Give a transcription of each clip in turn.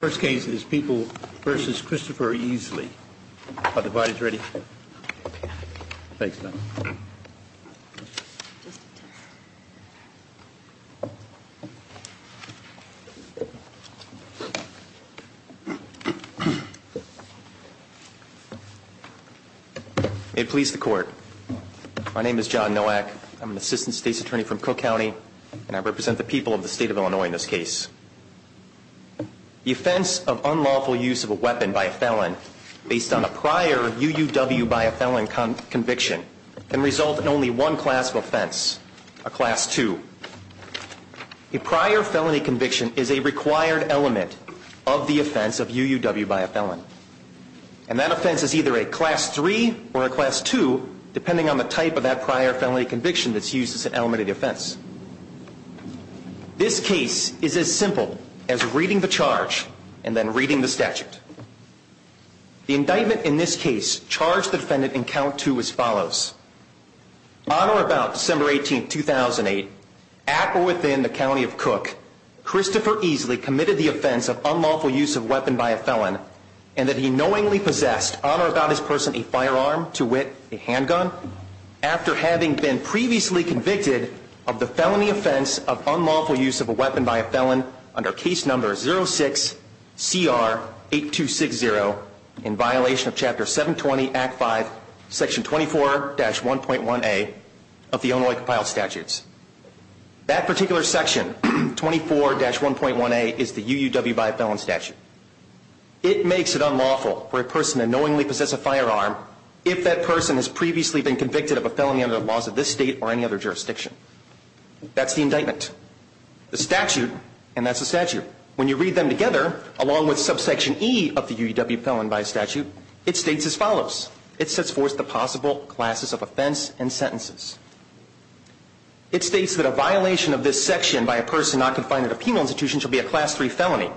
The first case is People v. Christopher Easley. Are the bodies ready? Thanks, Don. May it please the Court. My name is John Nowak. I'm an Assistant State's Attorney from Cook County, and I represent the people of the State of Illinois in this case. The offense of unlawful use of a weapon by a felon based on a prior UUW by a felon conviction can result in only one class of offense, a Class 2. A prior felony conviction is a required element of the offense of UUW by a felon, and that offense is either a Class 3 or a Class 2 depending on the type of that prior felony conviction that's used as an element of the offense. This case is as simple as reading the charge and then reading the statute. The indictment in this case charged the defendant in Count 2 as follows. On or about December 18, 2008, at or within the County of Cook, Christopher Easley committed the offense of unlawful use of a weapon by a felon and that he knowingly possessed on or about his person a firearm to wit, a handgun, after having been previously convicted of the felony offense of unlawful use of a weapon by a felon under Case No. 06-CR-8260 in violation of Chapter 720, Act 5, Section 24-1.1a of the Illinois Compiled Statutes. That particular section, 24-1.1a, is the UUW by a felon statute. It makes it unlawful for a person to knowingly possess a firearm if that person has previously been convicted of a felony under the laws of this State or any other jurisdiction. That's the indictment. The statute, and that's the statute, when you read them together along with subsection E of the UUW felon by statute, it states as follows. It sets forth the possible classes of offense and sentences. It states that a violation of this section by a person not confined at a penal institution shall be a Class III felony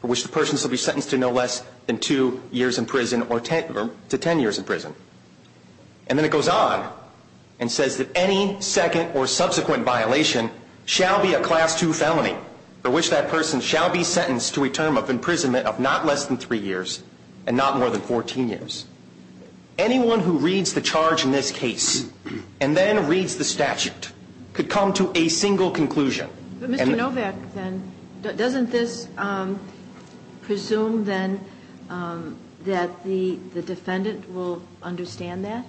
for which the person shall be sentenced to no less than 2 years in prison or to 10 years in prison. And then it goes on and says that any second or subsequent violation shall be a Class II felony for which that person shall be sentenced to a term of imprisonment of not less than 3 years and not more than 14 years. Anyone who reads the charge in this case and then reads the statute could come to a single conclusion. But Mr. Novak, then, doesn't this presume, then, that the defendant will understand that?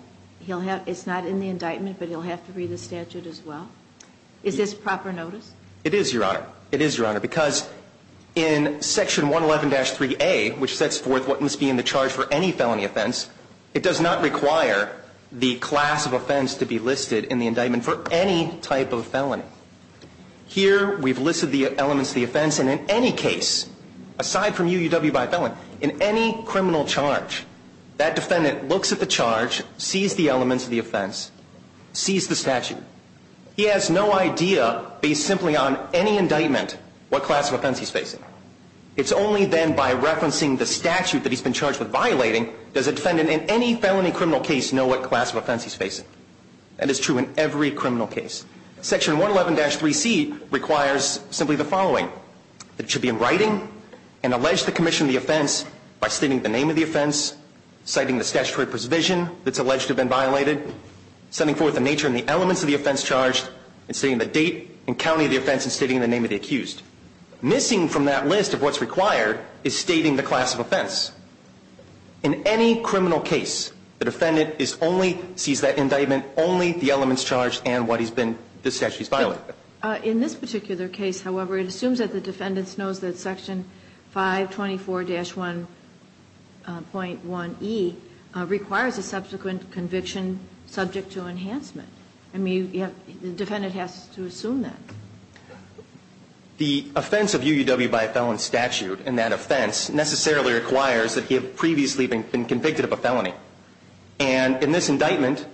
It's not in the indictment, but he'll have to read the statute as well? Is this proper notice? It is, Your Honor. It is, Your Honor, because in Section 111-3A, which sets forth what must be in the charge for any felony offense, it does not require the class of offense to be listed in the indictment for any type of felony. Here, we've listed the elements of the offense, and in any case, aside from UUW by a felon, in any criminal charge, that defendant looks at the charge, sees the elements of the offense, sees the statute. He has no idea, based simply on any indictment, what class of offense he's facing. It's only then, by referencing the statute that he's been charged with violating, does a defendant in any felony criminal case know what class of offense he's facing. That is true in every criminal case. Section 111-3C requires simply the following. It should be in writing, and allege the commission of the offense by stating the name of the offense, citing the statutory provision that's alleged to have been violated, setting forth the nature and the elements of the offense charged, and stating the date and county of the offense, and stating the name of the accused. Missing from that list of what's required is stating the class of offense. In any criminal case, the defendant is only, sees that indictment only, the elements charged and what he's been, the statute he's violated. In this particular case, however, it assumes that the defendant knows that Section 524-1.1e requires a subsequent conviction subject to enhancement. I mean, you have, the defendant has to assume that. The offense of UUW by a felon statute, and that offense necessarily requires that he had previously been convicted of a felony. And in this indictment,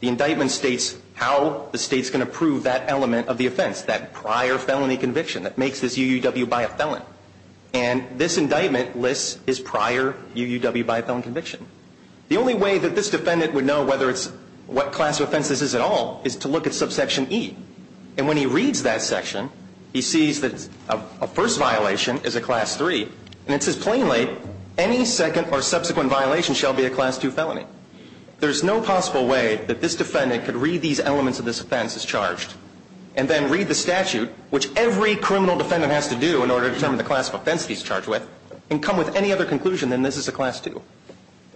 the indictment states how the state's going to prove that element of the offense, that prior felony conviction that makes this UUW by a felon. And this indictment lists his prior UUW by a felon conviction. The only way that this defendant would know whether it's, what class of offense this is at all is to look at Subsection E. And when he reads that section, he sees that a first violation is a Class 3, and it says plainly, any second or subsequent violation shall be a Class 2 felony. There's no possible way that this defendant could read these elements of this offense as charged, and then read the statute, which every criminal defendant has to do in order to determine the class of offense he's charged with, and come with any other conclusion than this is a Class 2.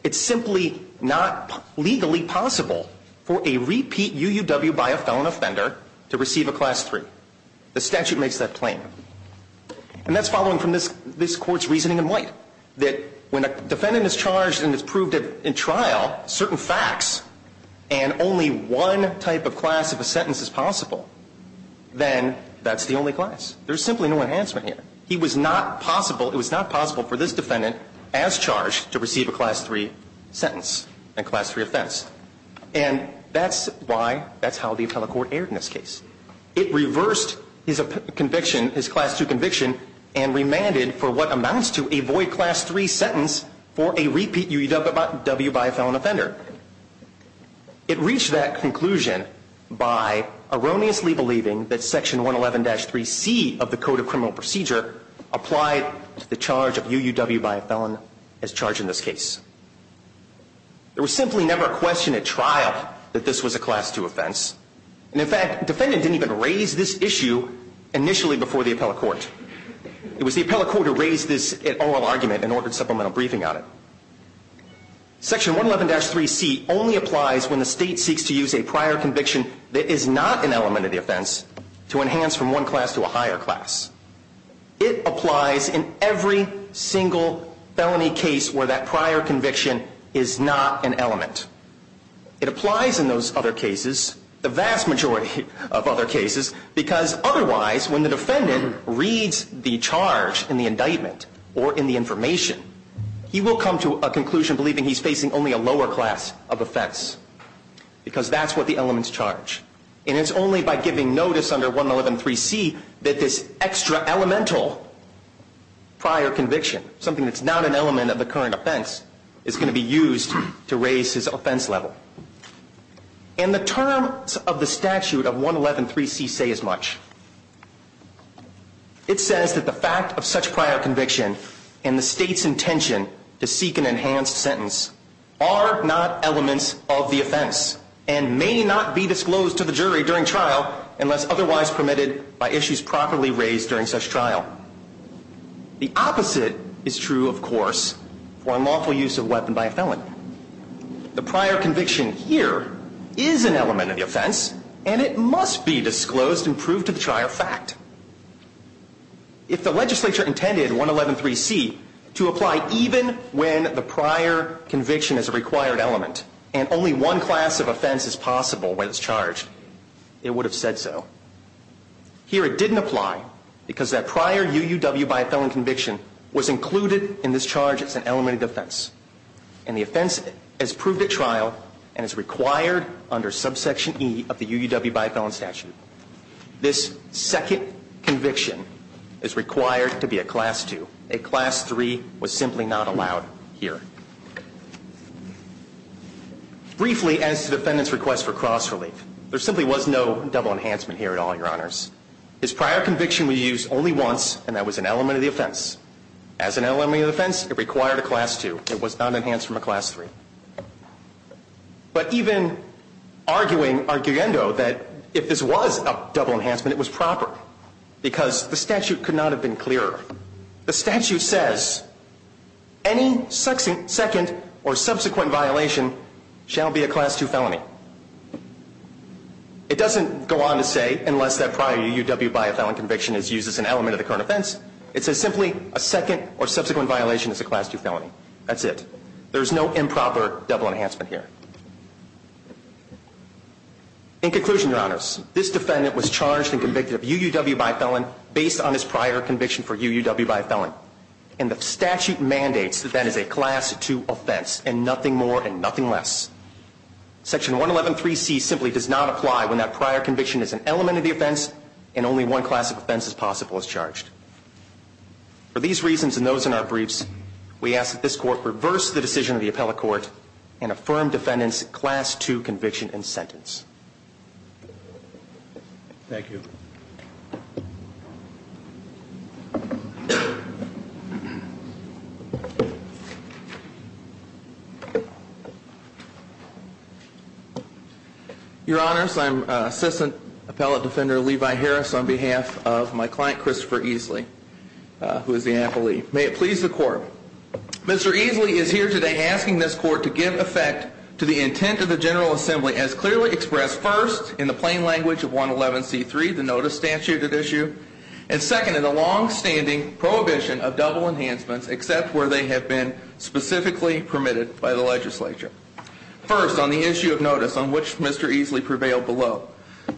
It's simply not legally possible for a repeat UUW by a felon offender to receive a Class 3. The statute makes that plain. And that's following from this Court's reasoning in White. That when a defendant is charged and it's proved in trial, certain facts, and only one type of class of a sentence is possible, then that's the only class. There's simply no enhancement here. He was not possible, it was not possible for this defendant as charged to receive a Class 3 sentence and Class 3 offense. And that's why, that's how the appellate court erred in this case. It reversed his conviction, his Class 2 conviction, and remanded for what amounts to a void Class 3 sentence for a repeat UUW by a felon offender. It reached that conclusion by erroneously believing that Section 111-3C of the Code of Criminal Procedure applied the charge of UUW by a felon as charged in this case. There was simply never a question at trial that this was a Class 2 offense. And in fact, the defendant didn't even raise this issue initially before the appellate court. It was the appellate court who raised this oral argument and ordered supplemental briefing on it. Section 111-3C only applies when the state seeks to use a prior conviction that is not an element of the offense to enhance from one class to a higher class. It applies in every single felony case where that prior conviction is not an element. It applies in those other cases, the vast majority of other cases, because otherwise, when the defendant reads the charge in the indictment or in the information, he will come to a conclusion believing he's facing only a lower class of offense, because that's what the elements charge. And it's only by giving notice under 111-3C that this extra elemental prior conviction, something that's not an element of the current offense, is going to be used to raise his offense level. And the terms of the statute of 111-3C say as much. It says that the fact of such prior conviction and the state's intention to seek an enhanced sentence are not elements of the offense and may not be disclosed to the jury during trial unless otherwise permitted by issues properly raised during such trial. The opposite is true, of course, for unlawful use of a weapon by a felon. The prior conviction here is an element of the offense, and it must be disclosed and proved to the trial fact. If the legislature intended 111-3C to apply even when the prior conviction is a required element and only one class of offense is possible when it's charged, it would have said so. Here it didn't apply because that prior UUW by a felon conviction was included in this charge as an element of the offense. And the offense is proved at trial and is required under subsection E of the UUW by a felon statute. This second conviction is required to be a class 2. A class 3 was simply not allowed here. Briefly, as to the defendant's request for cross-relief, there simply was no double enhancement here at all, Your Honors. His prior conviction was used only once, and that was an element of the offense. As an element of the offense, it required a class 2. It was not enhanced from a class 3. But even arguing, arguendo, that if this was a double enhancement, it was proper, because the statute could not have been clearer. The statute says any second or subsequent violation shall be a class 2 felony. It doesn't go on to say unless that prior UUW by a felon conviction is used as an element of the current offense. It says simply a second or subsequent violation is a class 2 felony. That's it. There's no improper double enhancement here. In conclusion, Your Honors, this defendant was charged and convicted of UUW by a felon based on his prior conviction for UUW by a felon. And the statute mandates that that is a class 2 offense and nothing more and nothing less. Section 111.3c simply does not apply when that prior conviction is an element of the offense and only one class of offense as possible is charged. For these reasons and those in our briefs, we ask that this Court reverse the decision of the appellate court and affirm defendant's class 2 conviction and sentence. Thank you. Your Honors, I'm Assistant Appellate Defender Levi Harris on behalf of my client, Christopher Easley, who is the appellee. May it please the Court. Mr. Easley is here today asking this Court to give effect to the intent of the General Assembly as clearly expressed first in the plain language of 111c3, the Notice Statute, and second in the long-standing prohibition of double enhancements except where they have been specifically permitted by the legislature. First, on the issue of notice on which Mr. Easley prevailed below,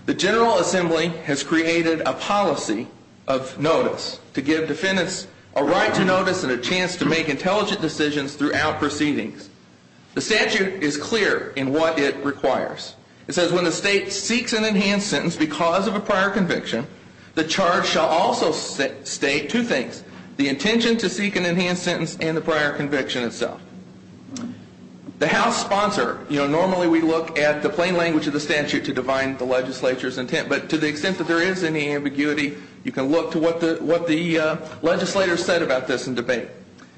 the General Assembly has created a policy of notice to give defendants a right to notice and a chance to make intelligent decisions throughout proceedings. The statute is clear in what it requires. It says when the state seeks an enhanced sentence because of a prior conviction, the charge shall also state two things, the intention to seek an enhanced sentence and the prior conviction itself. The House sponsor, you know, normally we look at the plain language of the statute to define the legislature's intent, but to the extent that there is any ambiguity, you can look to what the legislators said about this in debate.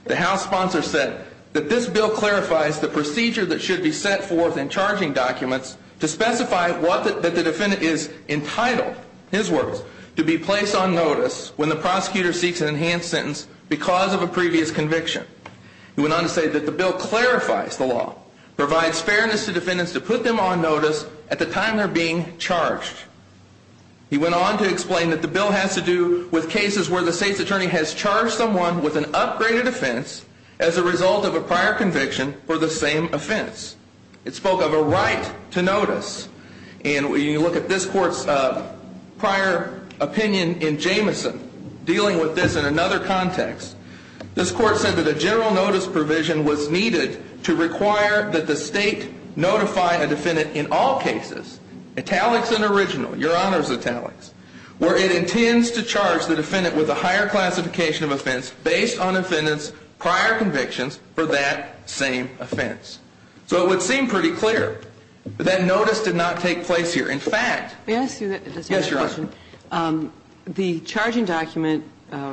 The House sponsor said that this bill clarifies the procedure that should be set forth in charging documents to specify what the defendant is entitled, his words, to be placed on notice when the prosecutor seeks an enhanced sentence because of a previous conviction. He went on to say that the bill clarifies the law, provides fairness to defendants to put them on notice at the time they're being charged. He went on to explain that the bill has to do with cases where the state's attorney has charged someone with an upgraded offense as a result of a prior conviction for the same offense. It spoke of a right to notice. And when you look at this court's prior opinion in Jamison, dealing with this in another context, this court said that a general notice provision was needed to require that the state notify a defendant in all cases, italics and original, Your Honor's italics, where it intends to charge the defendant with a higher classification of offense based on the defendant's prior convictions for that same offense. So it would seem pretty clear that notice did not take place here. In fact, May I ask you a question? Yes, Your Honor. The charging document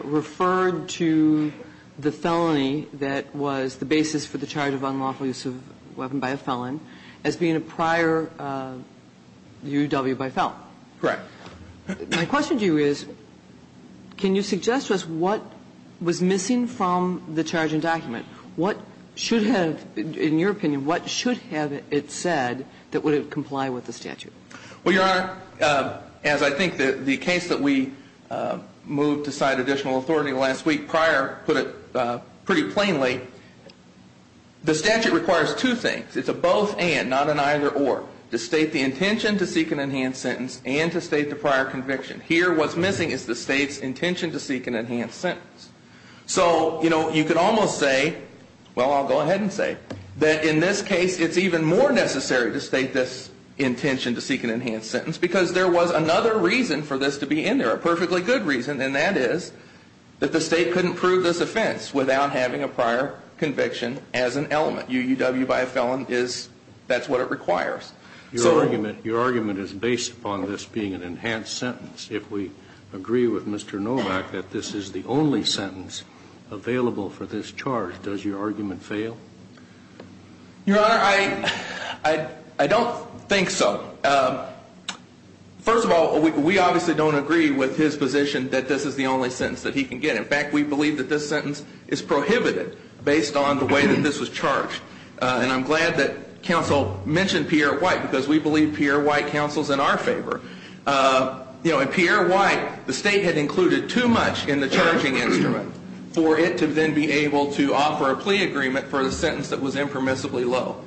referred to the felony that was the basis for the charge of unlawful use of a weapon by a felon as being a prior UW by felon. Correct. My question to you is, can you suggest to us what was missing from the charging document? What should have, in your opinion, what should have it said that would comply with the statute? Well, Your Honor, as I think that the case that we moved to cite additional authority last week prior put it pretty plainly, the statute requires two things. It's a both and, not an either or. To state the intention to seek an enhanced sentence and to state the prior conviction. Here what's missing is the state's intention to seek an enhanced sentence. So, you know, you could almost say, well, I'll go ahead and say, that in this case it's even more necessary to state this intention to seek an enhanced sentence because there was another reason for this to be in there, a perfectly good reason, and that is that the state couldn't prove this offense without having a prior conviction as an element. So, you know, that's what it requires. Your argument is based upon this being an enhanced sentence. If we agree with Mr. Novak that this is the only sentence available for this charge, does your argument fail? Your Honor, I don't think so. First of all, we obviously don't agree with his position that this is the only sentence that he can get. In fact, we believe that this sentence is prohibited based on the way that this was charged. And I'm glad that counsel mentioned Pierre White because we believe Pierre White counsels in our favor. You know, in Pierre White, the state had included too much in the charging instrument for it to then be able to offer a plea agreement for the sentence that was impermissibly low.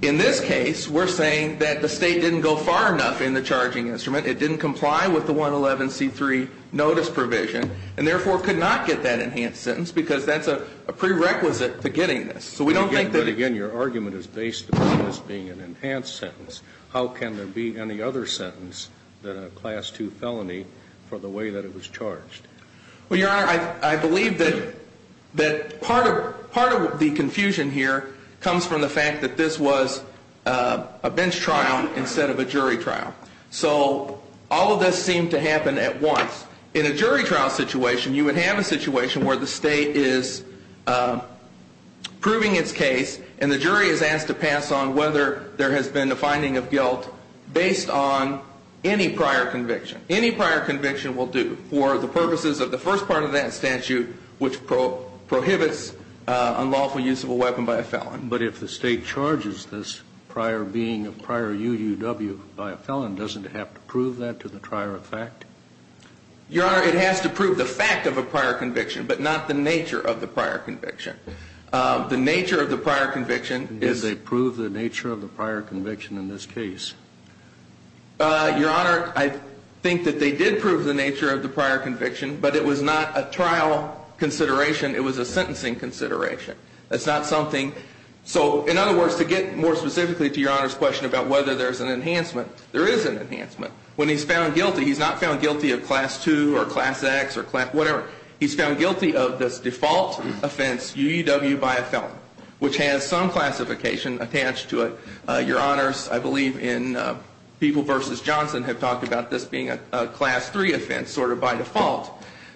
In this case, we're saying that the state didn't go far enough in the charging instrument. It didn't comply with the 111C3 notice provision and, therefore, could not get that enhanced sentence because that's a prerequisite to getting this. So we don't think that... But, again, your argument is based upon this being an enhanced sentence. How can there be any other sentence than a Class II felony for the way that it was charged? Well, Your Honor, I believe that part of the confusion here comes from the fact that this was a bench trial instead of a jury trial. So all of this seemed to happen at once. In a jury trial situation, you would have a situation where the state is proving its case and the jury is asked to pass on whether there has been a finding of guilt based on any prior conviction. Any prior conviction will do for the purposes of the first part of that statute, which prohibits unlawful use of a weapon by a felon. But if the state charges this prior being a prior UUW by a felon, doesn't it have to prove that to the trier of fact? Your Honor, it has to prove the fact of a prior conviction, but not the nature of the prior conviction. The nature of the prior conviction is... Did they prove the nature of the prior conviction in this case? Your Honor, I think that they did prove the nature of the prior conviction, but it was not a trial consideration. It was a sentencing consideration. That's not something... So, in other words, to get more specifically to Your Honor's question about whether there is an enhancement, there is an enhancement. When he's found guilty, he's not found guilty of Class 2 or Class X or whatever. He's found guilty of this default offense, UUW by a felon, which has some classification attached to it. Your Honor, I believe in People v. Johnson have talked about this being a Class 3 offense sort of by default.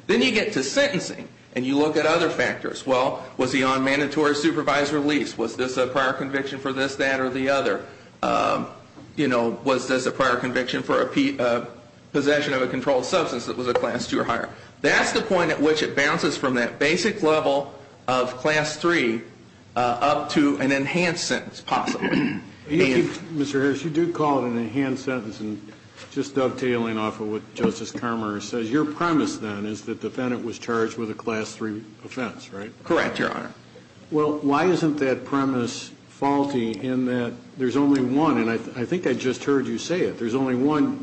Then you get to sentencing and you look at other factors. Well, was he on mandatory supervised release? Was this a prior conviction for this, that, or the other? You know, was this a prior conviction for a possession of a controlled substance that was a Class 2 or higher? That's the point at which it bounces from that basic level of Class 3 up to an enhanced sentence, possibly. Mr. Harris, you do call it an enhanced sentence, and just dovetailing off of what Justice Carmer says, your premise then is that the defendant was charged with a Class 3 offense, right? Correct, Your Honor. Well, why isn't that premise faulty in that there's only one, and I think I just heard you say it, there's only one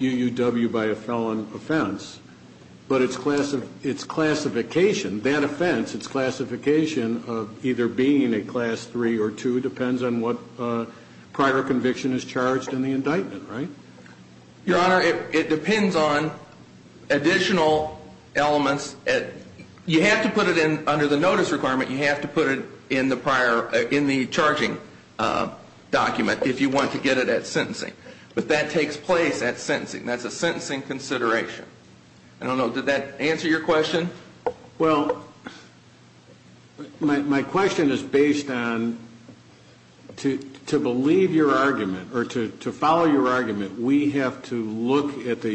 UUW by a felon offense, but its classification, that offense, its classification of either being a Class 3 or 2 depends on what prior conviction is charged in the indictment, right? Your Honor, it depends on additional elements. You have to put it in under the notice requirement. You have to put it in the prior, in the charging document if you want to get it at sentencing. But that takes place at sentencing. That's a sentencing consideration. I don't know, did that answer your question? Well, my question is based on, to believe your argument, or to follow your argument, we have to look at the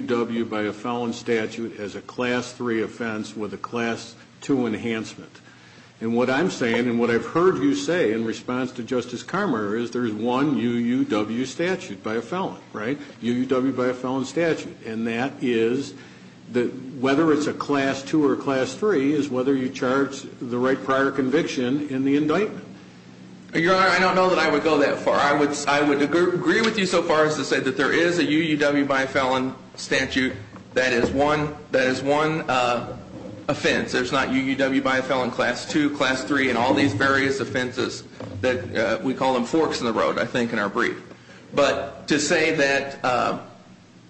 UUW by a felon statute as a Class 3 offense with a Class 2 enhancement. And what I'm saying, and what I've heard you say in response to Justice Carmer, is there's one UUW statute by a felon, right? Whether it's a Class 2 or a Class 3 is whether you charge the right prior conviction in the indictment. Your Honor, I don't know that I would go that far. I would agree with you so far as to say that there is a UUW by a felon statute that is one offense. There's not UUW by a felon Class 2, Class 3, and all these various offenses that we call them forks in the road, I think, in our brief. But to say that,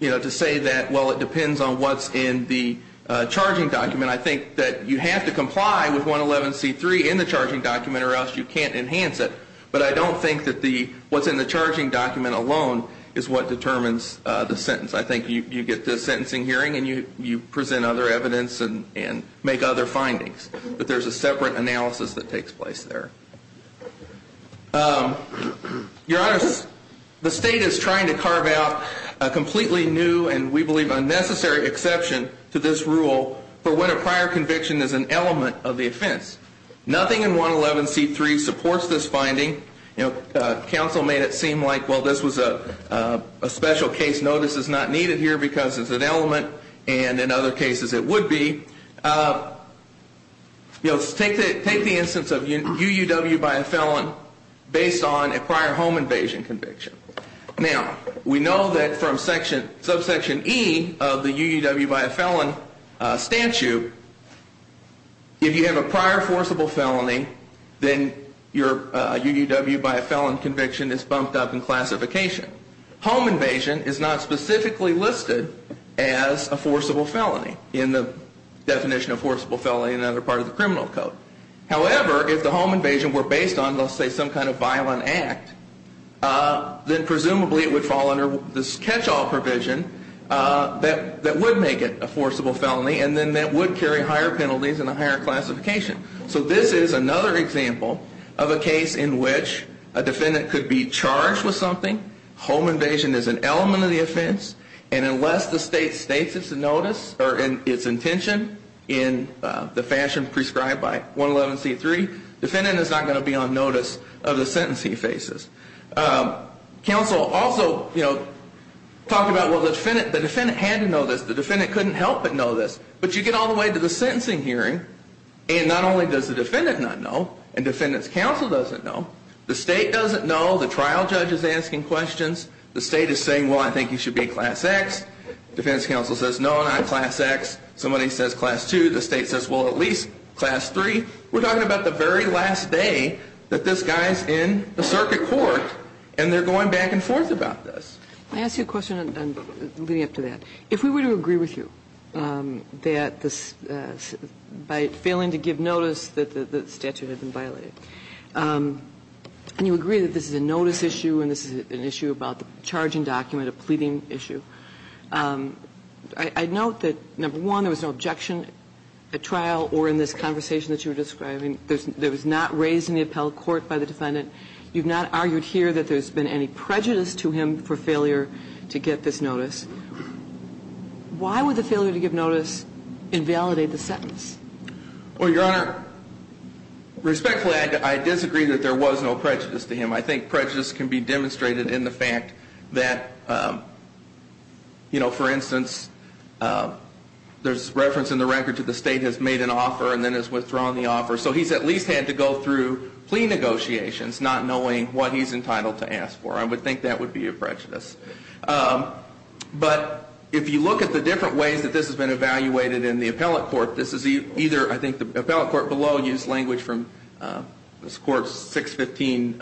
you know, to say that, well, it depends on what's in the charging document, I think that you have to comply with 111C3 in the charging document or else you can't enhance it. But I don't think that what's in the charging document alone is what determines the sentence. I think you get the sentencing hearing and you present other evidence and make other findings. But there's a separate analysis that takes place there. Your Honor, the State is trying to carve out a completely new and we believe unnecessary exception to this rule for when a prior conviction is an element of the offense. Nothing in 111C3 supports this finding. You know, counsel made it seem like, well, this was a special case. No, this is not needed here because it's an element and in other cases it would be. You know, take the instance of UUW by a felon based on a prior home invasion conviction. Now, we know that from subsection E of the UUW by a felon statute, if you have a prior forcible felony, then your UUW by a felon conviction is bumped up in classification. Home invasion is not specifically listed as a forcible felony in the definition of forcible felony in another part of the criminal code. However, if the home invasion were based on, let's say, some kind of violent act, then presumably it would fall under this catch-all provision that would make it a forcible felony and then that would carry higher penalties and a higher classification. So this is another example of a case in which a defendant could be charged with something. Home invasion is an element of the offense and unless the state states its notice or its intention in the fashion prescribed by 111C3, defendant is not going to be on notice of the sentence he faces. Counsel also, you know, talked about, well, the defendant had to know this. The defendant couldn't help but know this. But you get all the way to the sentencing hearing and not only does the defendant not know and defendant's counsel doesn't know, the State doesn't know, the trial judge is asking questions, the State is saying, well, I think you should be class X. Defendant's counsel says, no, I'm not class X. Somebody says class 2. The State says, well, at least class 3. We're talking about the very last day that this guy is in the circuit court and they're going back and forth about this. Let me ask you a question leading up to that. If we were to agree with you that by failing to give notice that the statute had been violated, and you agree that this is a notice issue and this is an issue about the charging document, a pleading issue, I note that, number one, there was no objection at trial or in this conversation that you were describing. There was not raised in the appellate court by the defendant. You've not argued here that there's been any prejudice to him for failure to get this notice. Why would the failure to give notice invalidate the sentence? Well, Your Honor, respectfully, I disagree that there was no prejudice to him. I think prejudice can be demonstrated in the fact that, you know, for instance, there's reference in the record to the State has made an offer and then has withdrawn the offer, so he's at least had to go through plea negotiations not knowing what he's I would think that would be a prejudice. But if you look at the different ways that this has been evaluated in the appellate court, this is either, I think the appellate court below used language from this Court's 615,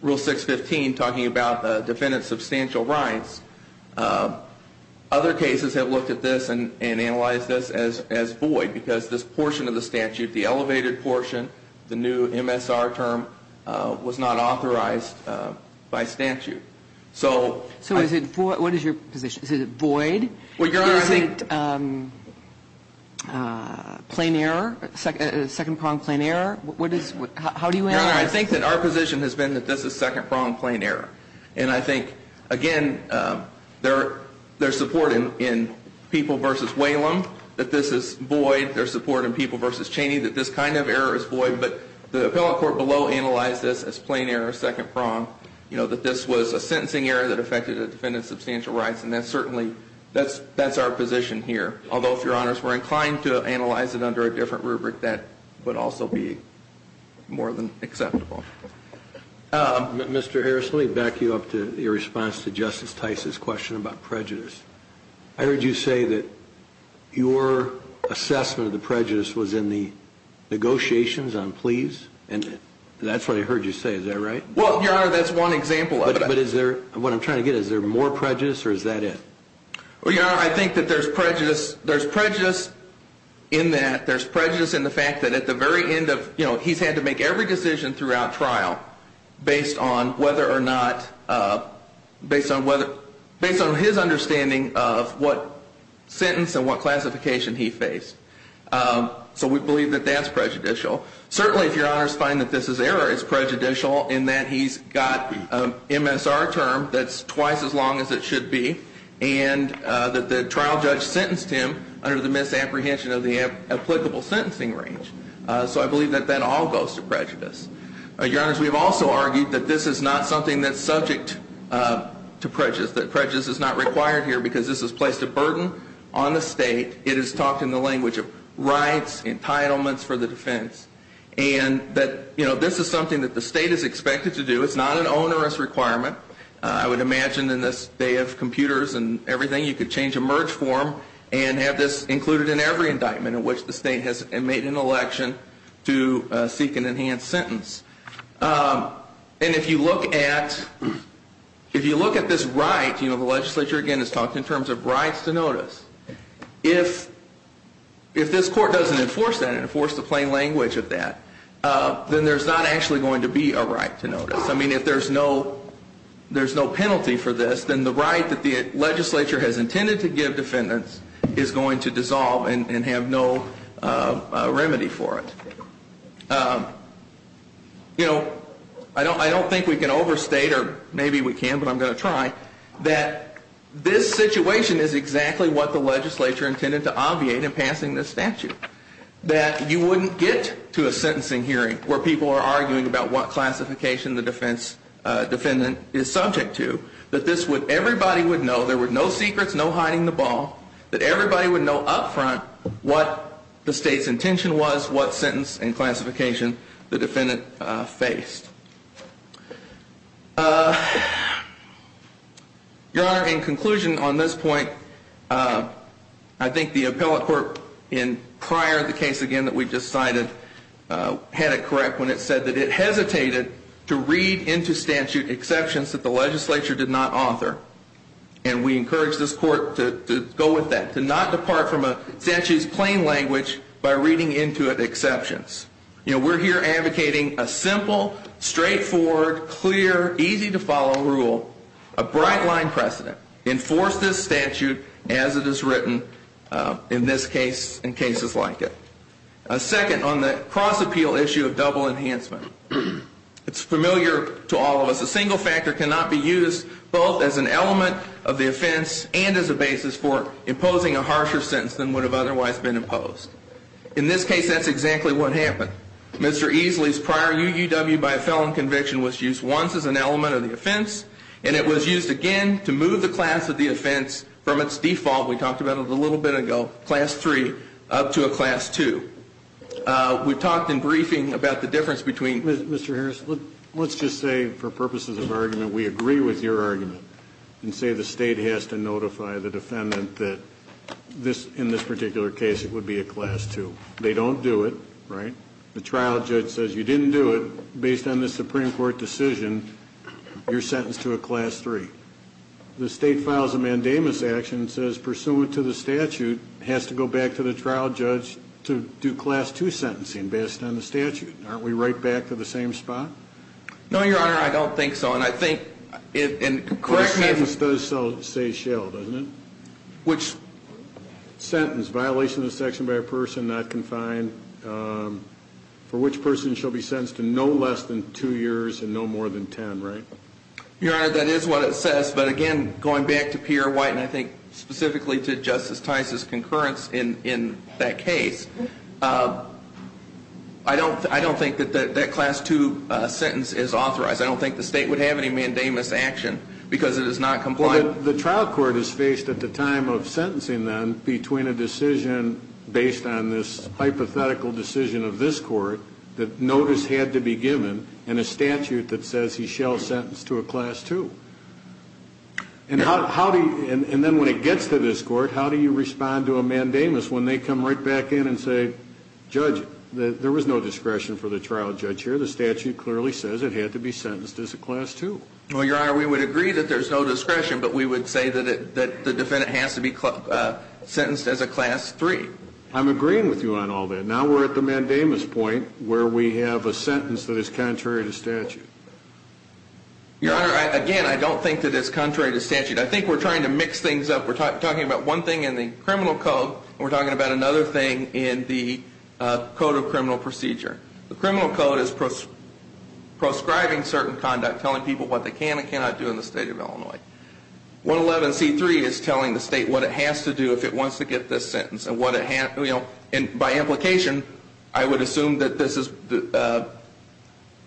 Rule 615, talking about the defendant's substantial rights. Other cases have looked at this and analyzed this as void because this portion of the statute, the elevated portion, the new MSR term, was not authorized by statute. So is it void? What is your position? Is it void? Well, Your Honor, I think Is it plain error, second prong plain error? How do you answer this? Your Honor, I think that our position has been that this is second prong plain error. And I think, again, there's support in People v. Whalum that this is void. There's support in People v. Cheney that this kind of error is void. I think that this was a sentencing error that affected a defendant's substantial rights. And that's certainly, that's our position here. Although, if Your Honors were inclined to analyze it under a different rubric, that would also be more than acceptable. Mr. Harris, let me back you up to your response to Justice Tice's question about prejudice. I heard you say that your assessment of the prejudice was in the negotiations on pleas. And that's what I heard you say. Is that right? Well, Your Honor, that's one example of it. But is there, what I'm trying to get at, is there more prejudice or is that it? Well, Your Honor, I think that there's prejudice in that. There's prejudice in the fact that at the very end of, you know, he's had to make every decision throughout trial based on whether or not, based on whether, based on his understanding of what sentence and what classification he faced. So we believe that that's prejudicial. Certainly, if Your Honors find that this error is prejudicial in that he's got an MSR term that's twice as long as it should be and that the trial judge sentenced him under the misapprehension of the applicable sentencing range. So I believe that that all goes to prejudice. Your Honors, we've also argued that this is not something that's subject to prejudice. That prejudice is not required here because this has placed a burden on the state. It is talked in the language of rights, entitlements for the defense. And that, you know, this is something that the state is expected to do. It's not an onerous requirement. I would imagine in this day of computers and everything, you could change a merge form and have this included in every indictment in which the state has made an election to seek an enhanced sentence. And if you look at, if you look at this right, you know, the legislature, again, has talked in terms of rights to notice. If this court doesn't enforce that and enforce the plain language of that, then there's not actually going to be a right to notice. I mean, if there's no penalty for this, then the right that the legislature has intended to give defendants is going to dissolve and have no remedy for it. You know, I don't think we can overstate, or maybe we can, but I'm going to try, that this situation is exactly what the legislature intended to obviate in passing this statute. That you wouldn't get to a sentencing hearing where people are arguing about what classification the defendant is subject to. That this would, everybody would know, there were no secrets, no hiding the ball, that everybody would know up front what the state's intention was, what Your Honor, in conclusion on this point, I think the appellate court, in prior to the case again that we just cited, had it correct when it said that it hesitated to read into statute exceptions that the legislature did not author. And we encourage this court to go with that, to not depart from a statute's plain language by reading into it exceptions. You know, we're here advocating a simple, straightforward, clear, easy to follow rule, a bright-line precedent, enforce this statute as it is written in this case and cases like it. Second, on the cross-appeal issue of double enhancement. It's familiar to all of us. A single factor cannot be used both as an element of the offense and as a basis for imposing a harsher sentence than would have otherwise been imposed. In this case, that's exactly what happened. Mr. Easley's prior UUW by a felon conviction was used once as an element of the offense, and it was used again to move the class of the offense from its default, we talked about it a little bit ago, class 3, up to a class 2. We talked in briefing about the difference between Mr. Harris, let's just say, for purposes of argument, we agree with your argument and say the state has to notify the defendant that, in this particular case, it would be a class 2. They don't do it, right? The trial judge says, you didn't do it. Based on the Supreme Court decision, you're sentenced to a class 3. The state files a mandamus action and says, pursuant to the statute, it has to go back to the trial judge to do class 2 sentencing based on the statute. Aren't we right back to the same spot? No, Your Honor, I don't think so. And I think, and correct me if... The sentence does say shell, doesn't it? Which? Sentence, violation of the section by a person not confined, for which person shall be sentenced to no less than 2 years and no more than 10, right? Your Honor, that is what it says, but again, going back to Pierre White and I think specifically to Justice Tice's concurrence in that case, I don't think that that class 2 sentence is authorized. I don't think the state would have any mandamus action because it is not compliant. The trial court is faced at the time of sentencing then between a decision based on this hypothetical decision of this court that notice had to be given and a statute that says he shall sentence to a class 2. And then when it gets to this court, how do you respond to a mandamus when they come right back in and say, Judge, there was no discretion for the trial judge here. The statute clearly says it had to be sentenced as a class 2. Well, Your Honor, we would agree that there's no discretion, but we would say that the defendant has to be sentenced as a class 3. I'm agreeing with you on all that. Now we're at the mandamus point where we have a sentence that is contrary to statute. Your Honor, again, I don't think that it's contrary to statute. I think we're trying to mix things up. We're talking about one thing in the criminal code and we're talking about another thing in the code of criminal procedure. The criminal code is proscribing certain conduct, telling people what they can and cannot do in the state of Illinois. 111C3 is telling the state what it has to do if it wants to get this sentence. And by implication, I would assume that this is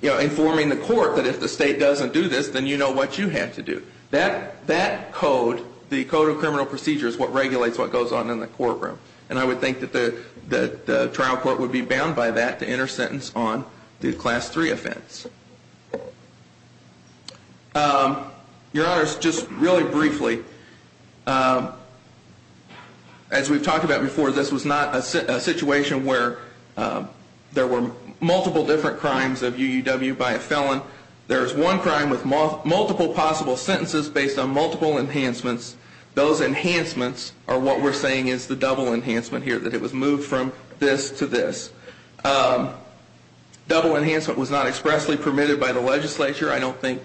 informing the court that if the state doesn't do this, then you know what you have to do. That code, the code of criminal procedure, is what regulates what goes on in the courtroom. And I would think that the trial court would be bound by that to enter sentence on the class 3 offense. Your Honor, just really briefly, as we've talked about before, this was not a situation where there were multiple different crimes of UUW by a felon. There's one crime with multiple possible sentences based on multiple enhancements. Those enhancements are what we're saying is the double enhancement here, that it was moved from this to this. Double enhancement was not expressly permitted by the legislature. I don't think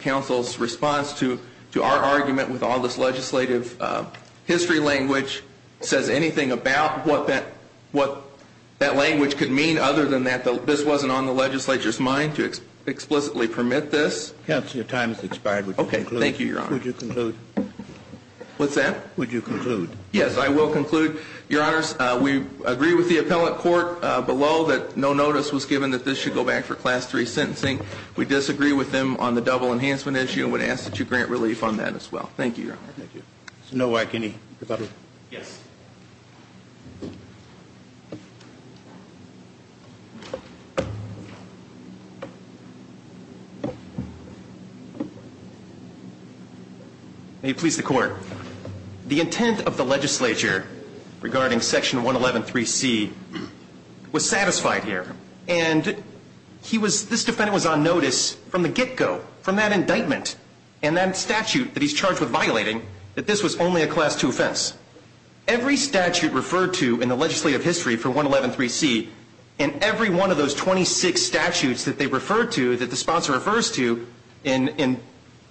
counsel's response to our argument with all this legislative history language says anything about what that language could mean other than that this wasn't on the legislature's mind to explicitly permit this. Counsel, your time has expired. Okay, thank you, Your Honor. Would you conclude? What's that? Would you conclude? Yes, I will conclude. Your Honor, we agree with the appellate court below that no notice was given that this should go back for class 3 sentencing. We disagree with them on the double enhancement issue and would ask that you grant relief on that as well. Thank you, Your Honor. Thank you. Mr. Nowak, any rebuttal? Yes. May it please the Court. The intent of the legislature regarding Section 111.3c was satisfied here, and this defendant was on notice from the get-go, from that indictment, and that statute that he's charged with violating, that this was only a class 2 offense. Every statute referred to in the legislative history for 111.3c and every one of those 26 statutes that they referred to, that the sponsor refers to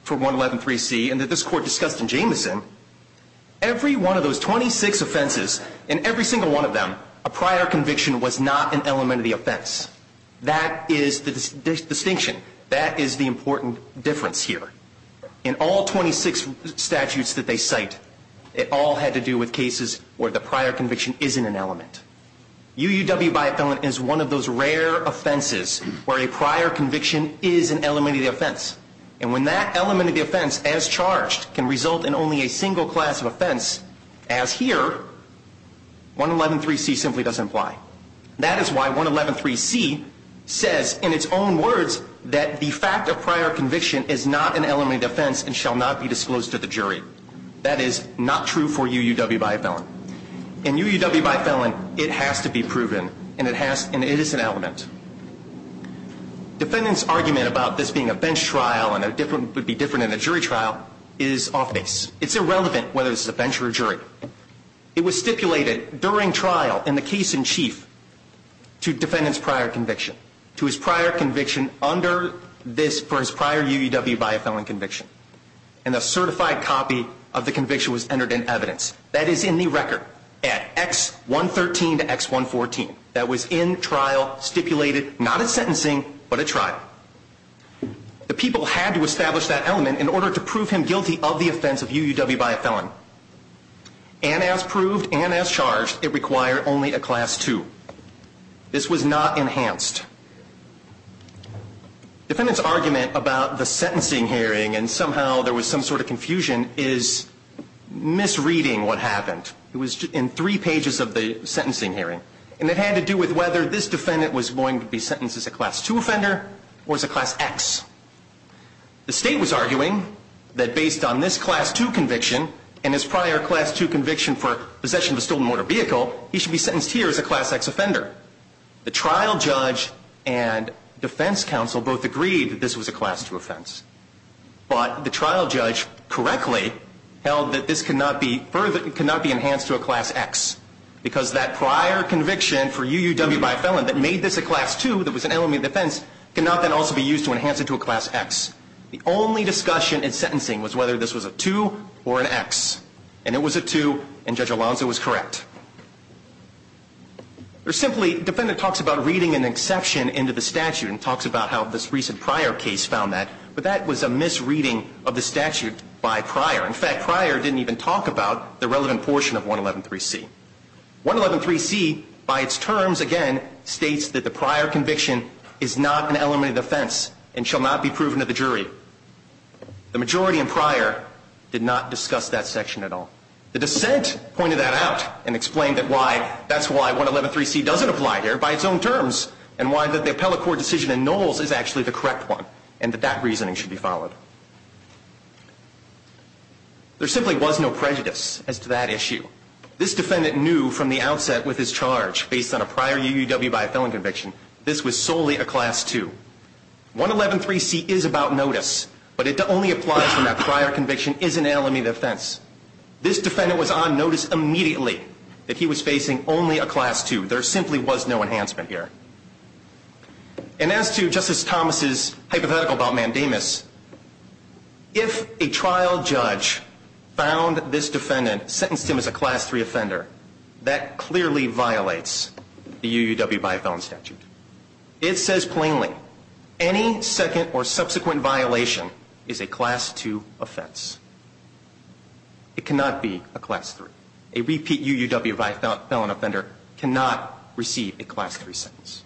for 111.3c and that this Court discussed in Jamison, every one of those 26 offenses, in every single one of them, a prior conviction was not an element of the offense. That is the distinction. That is the important difference here. In all 26 statutes that they cite, it all had to do with cases where the prior conviction isn't an element. UUW by a felon is one of those rare offenses where a prior conviction is an element of the offense. And when that element of the offense, as charged, can result in only a single class of offense, as here, 111.3c simply doesn't apply. That is why 111.3c says in its own words that the fact of prior conviction is not an element of the offense and shall not be disclosed to the jury. That is not true for UUW by a felon. In UUW by a felon, it has to be proven, and it is an element. Defendant's argument about this being a bench trial and it would be different in a jury trial is off-base. It's irrelevant whether this is a bench or a jury. It was stipulated during trial in the case in chief to defendant's prior conviction, to his prior conviction under this for his prior UUW by a felon conviction. And a certified copy of the conviction was entered in evidence. That is in the record at X113 to X114. That was in trial, stipulated, not as sentencing, but at trial. The people had to establish that element in order to prove him guilty of the offense of UUW by a felon. And as proved and as charged, it required only a class 2. This was not enhanced. Defendant's argument about the sentencing hearing and somehow there was some sort of confusion is misreading what happened. It was in three pages of the sentencing hearing. And it had to do with whether this defendant was going to be sentenced as a class 2 offender or as a class X. The state was arguing that based on this class 2 conviction and his prior class 2 conviction for possession of a stolen motor vehicle, he should be sentenced here as a class X offender. The trial judge and defense counsel both agreed that this was a class 2 offense. But the trial judge correctly held that this could not be enhanced to a class X because that prior conviction for UUW by a felon that made this a class 2, that was an element of defense, could not then also be used to enhance it to a class X. The only discussion in sentencing was whether this was a 2 or an X. And it was a 2, and Judge Alonzo was correct. Or simply, defendant talks about reading an exception into the statute and talks about how this recent prior case found that, but that was a misreading of the statute by prior. In fact, prior didn't even talk about the relevant portion of 111.3c. 111.3c, by its terms, again, states that the prior conviction is not an element of defense and shall not be proven to the jury. The majority in prior did not discuss that section at all. The dissent pointed that out and explained that's why 111.3c doesn't apply here by its own terms and why the appellate court decision in Knowles is actually the correct one and that that reasoning should be followed. There simply was no prejudice as to that issue. This defendant knew from the outset with his charge, based on a prior UUW by a felon conviction, this was solely a class 2. 111.3c is about notice, but it only applies when that prior conviction is an element of defense. This defendant was on notice immediately that he was facing only a class 2. There simply was no enhancement here. And as to Justice Thomas' hypothetical about mandamus, if a trial judge found this defendant, sentenced him as a class 3 offender, that clearly violates the UUW by a felon statute. It says plainly, any second or subsequent violation is a class 2 offense. It cannot be a class 3. A repeat UUW by a felon offender cannot receive a class 3 sentence.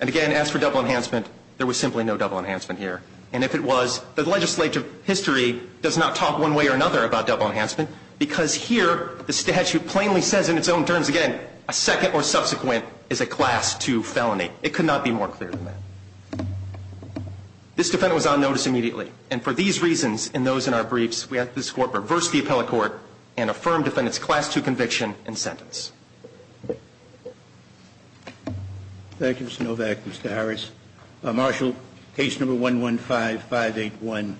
And again, as for double enhancement, there was simply no double enhancement here. And if it was, the legislative history does not talk one way or another about double enhancement because here the statute plainly says in its own terms, again, a second or subsequent is a class 2 felony. It could not be more clear than that. This defendant was on notice immediately, and for these reasons and those in our briefs, we ask that this Court reverse the appellate court and affirm defendant's class 2 conviction and sentence. Thank you, Mr. Novak, Mr. Harris. Marshal, case number 115581,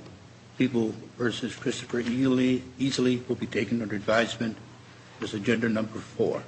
People v. Christopher Ely, easily will be taken under advisement. This is agenda number 4.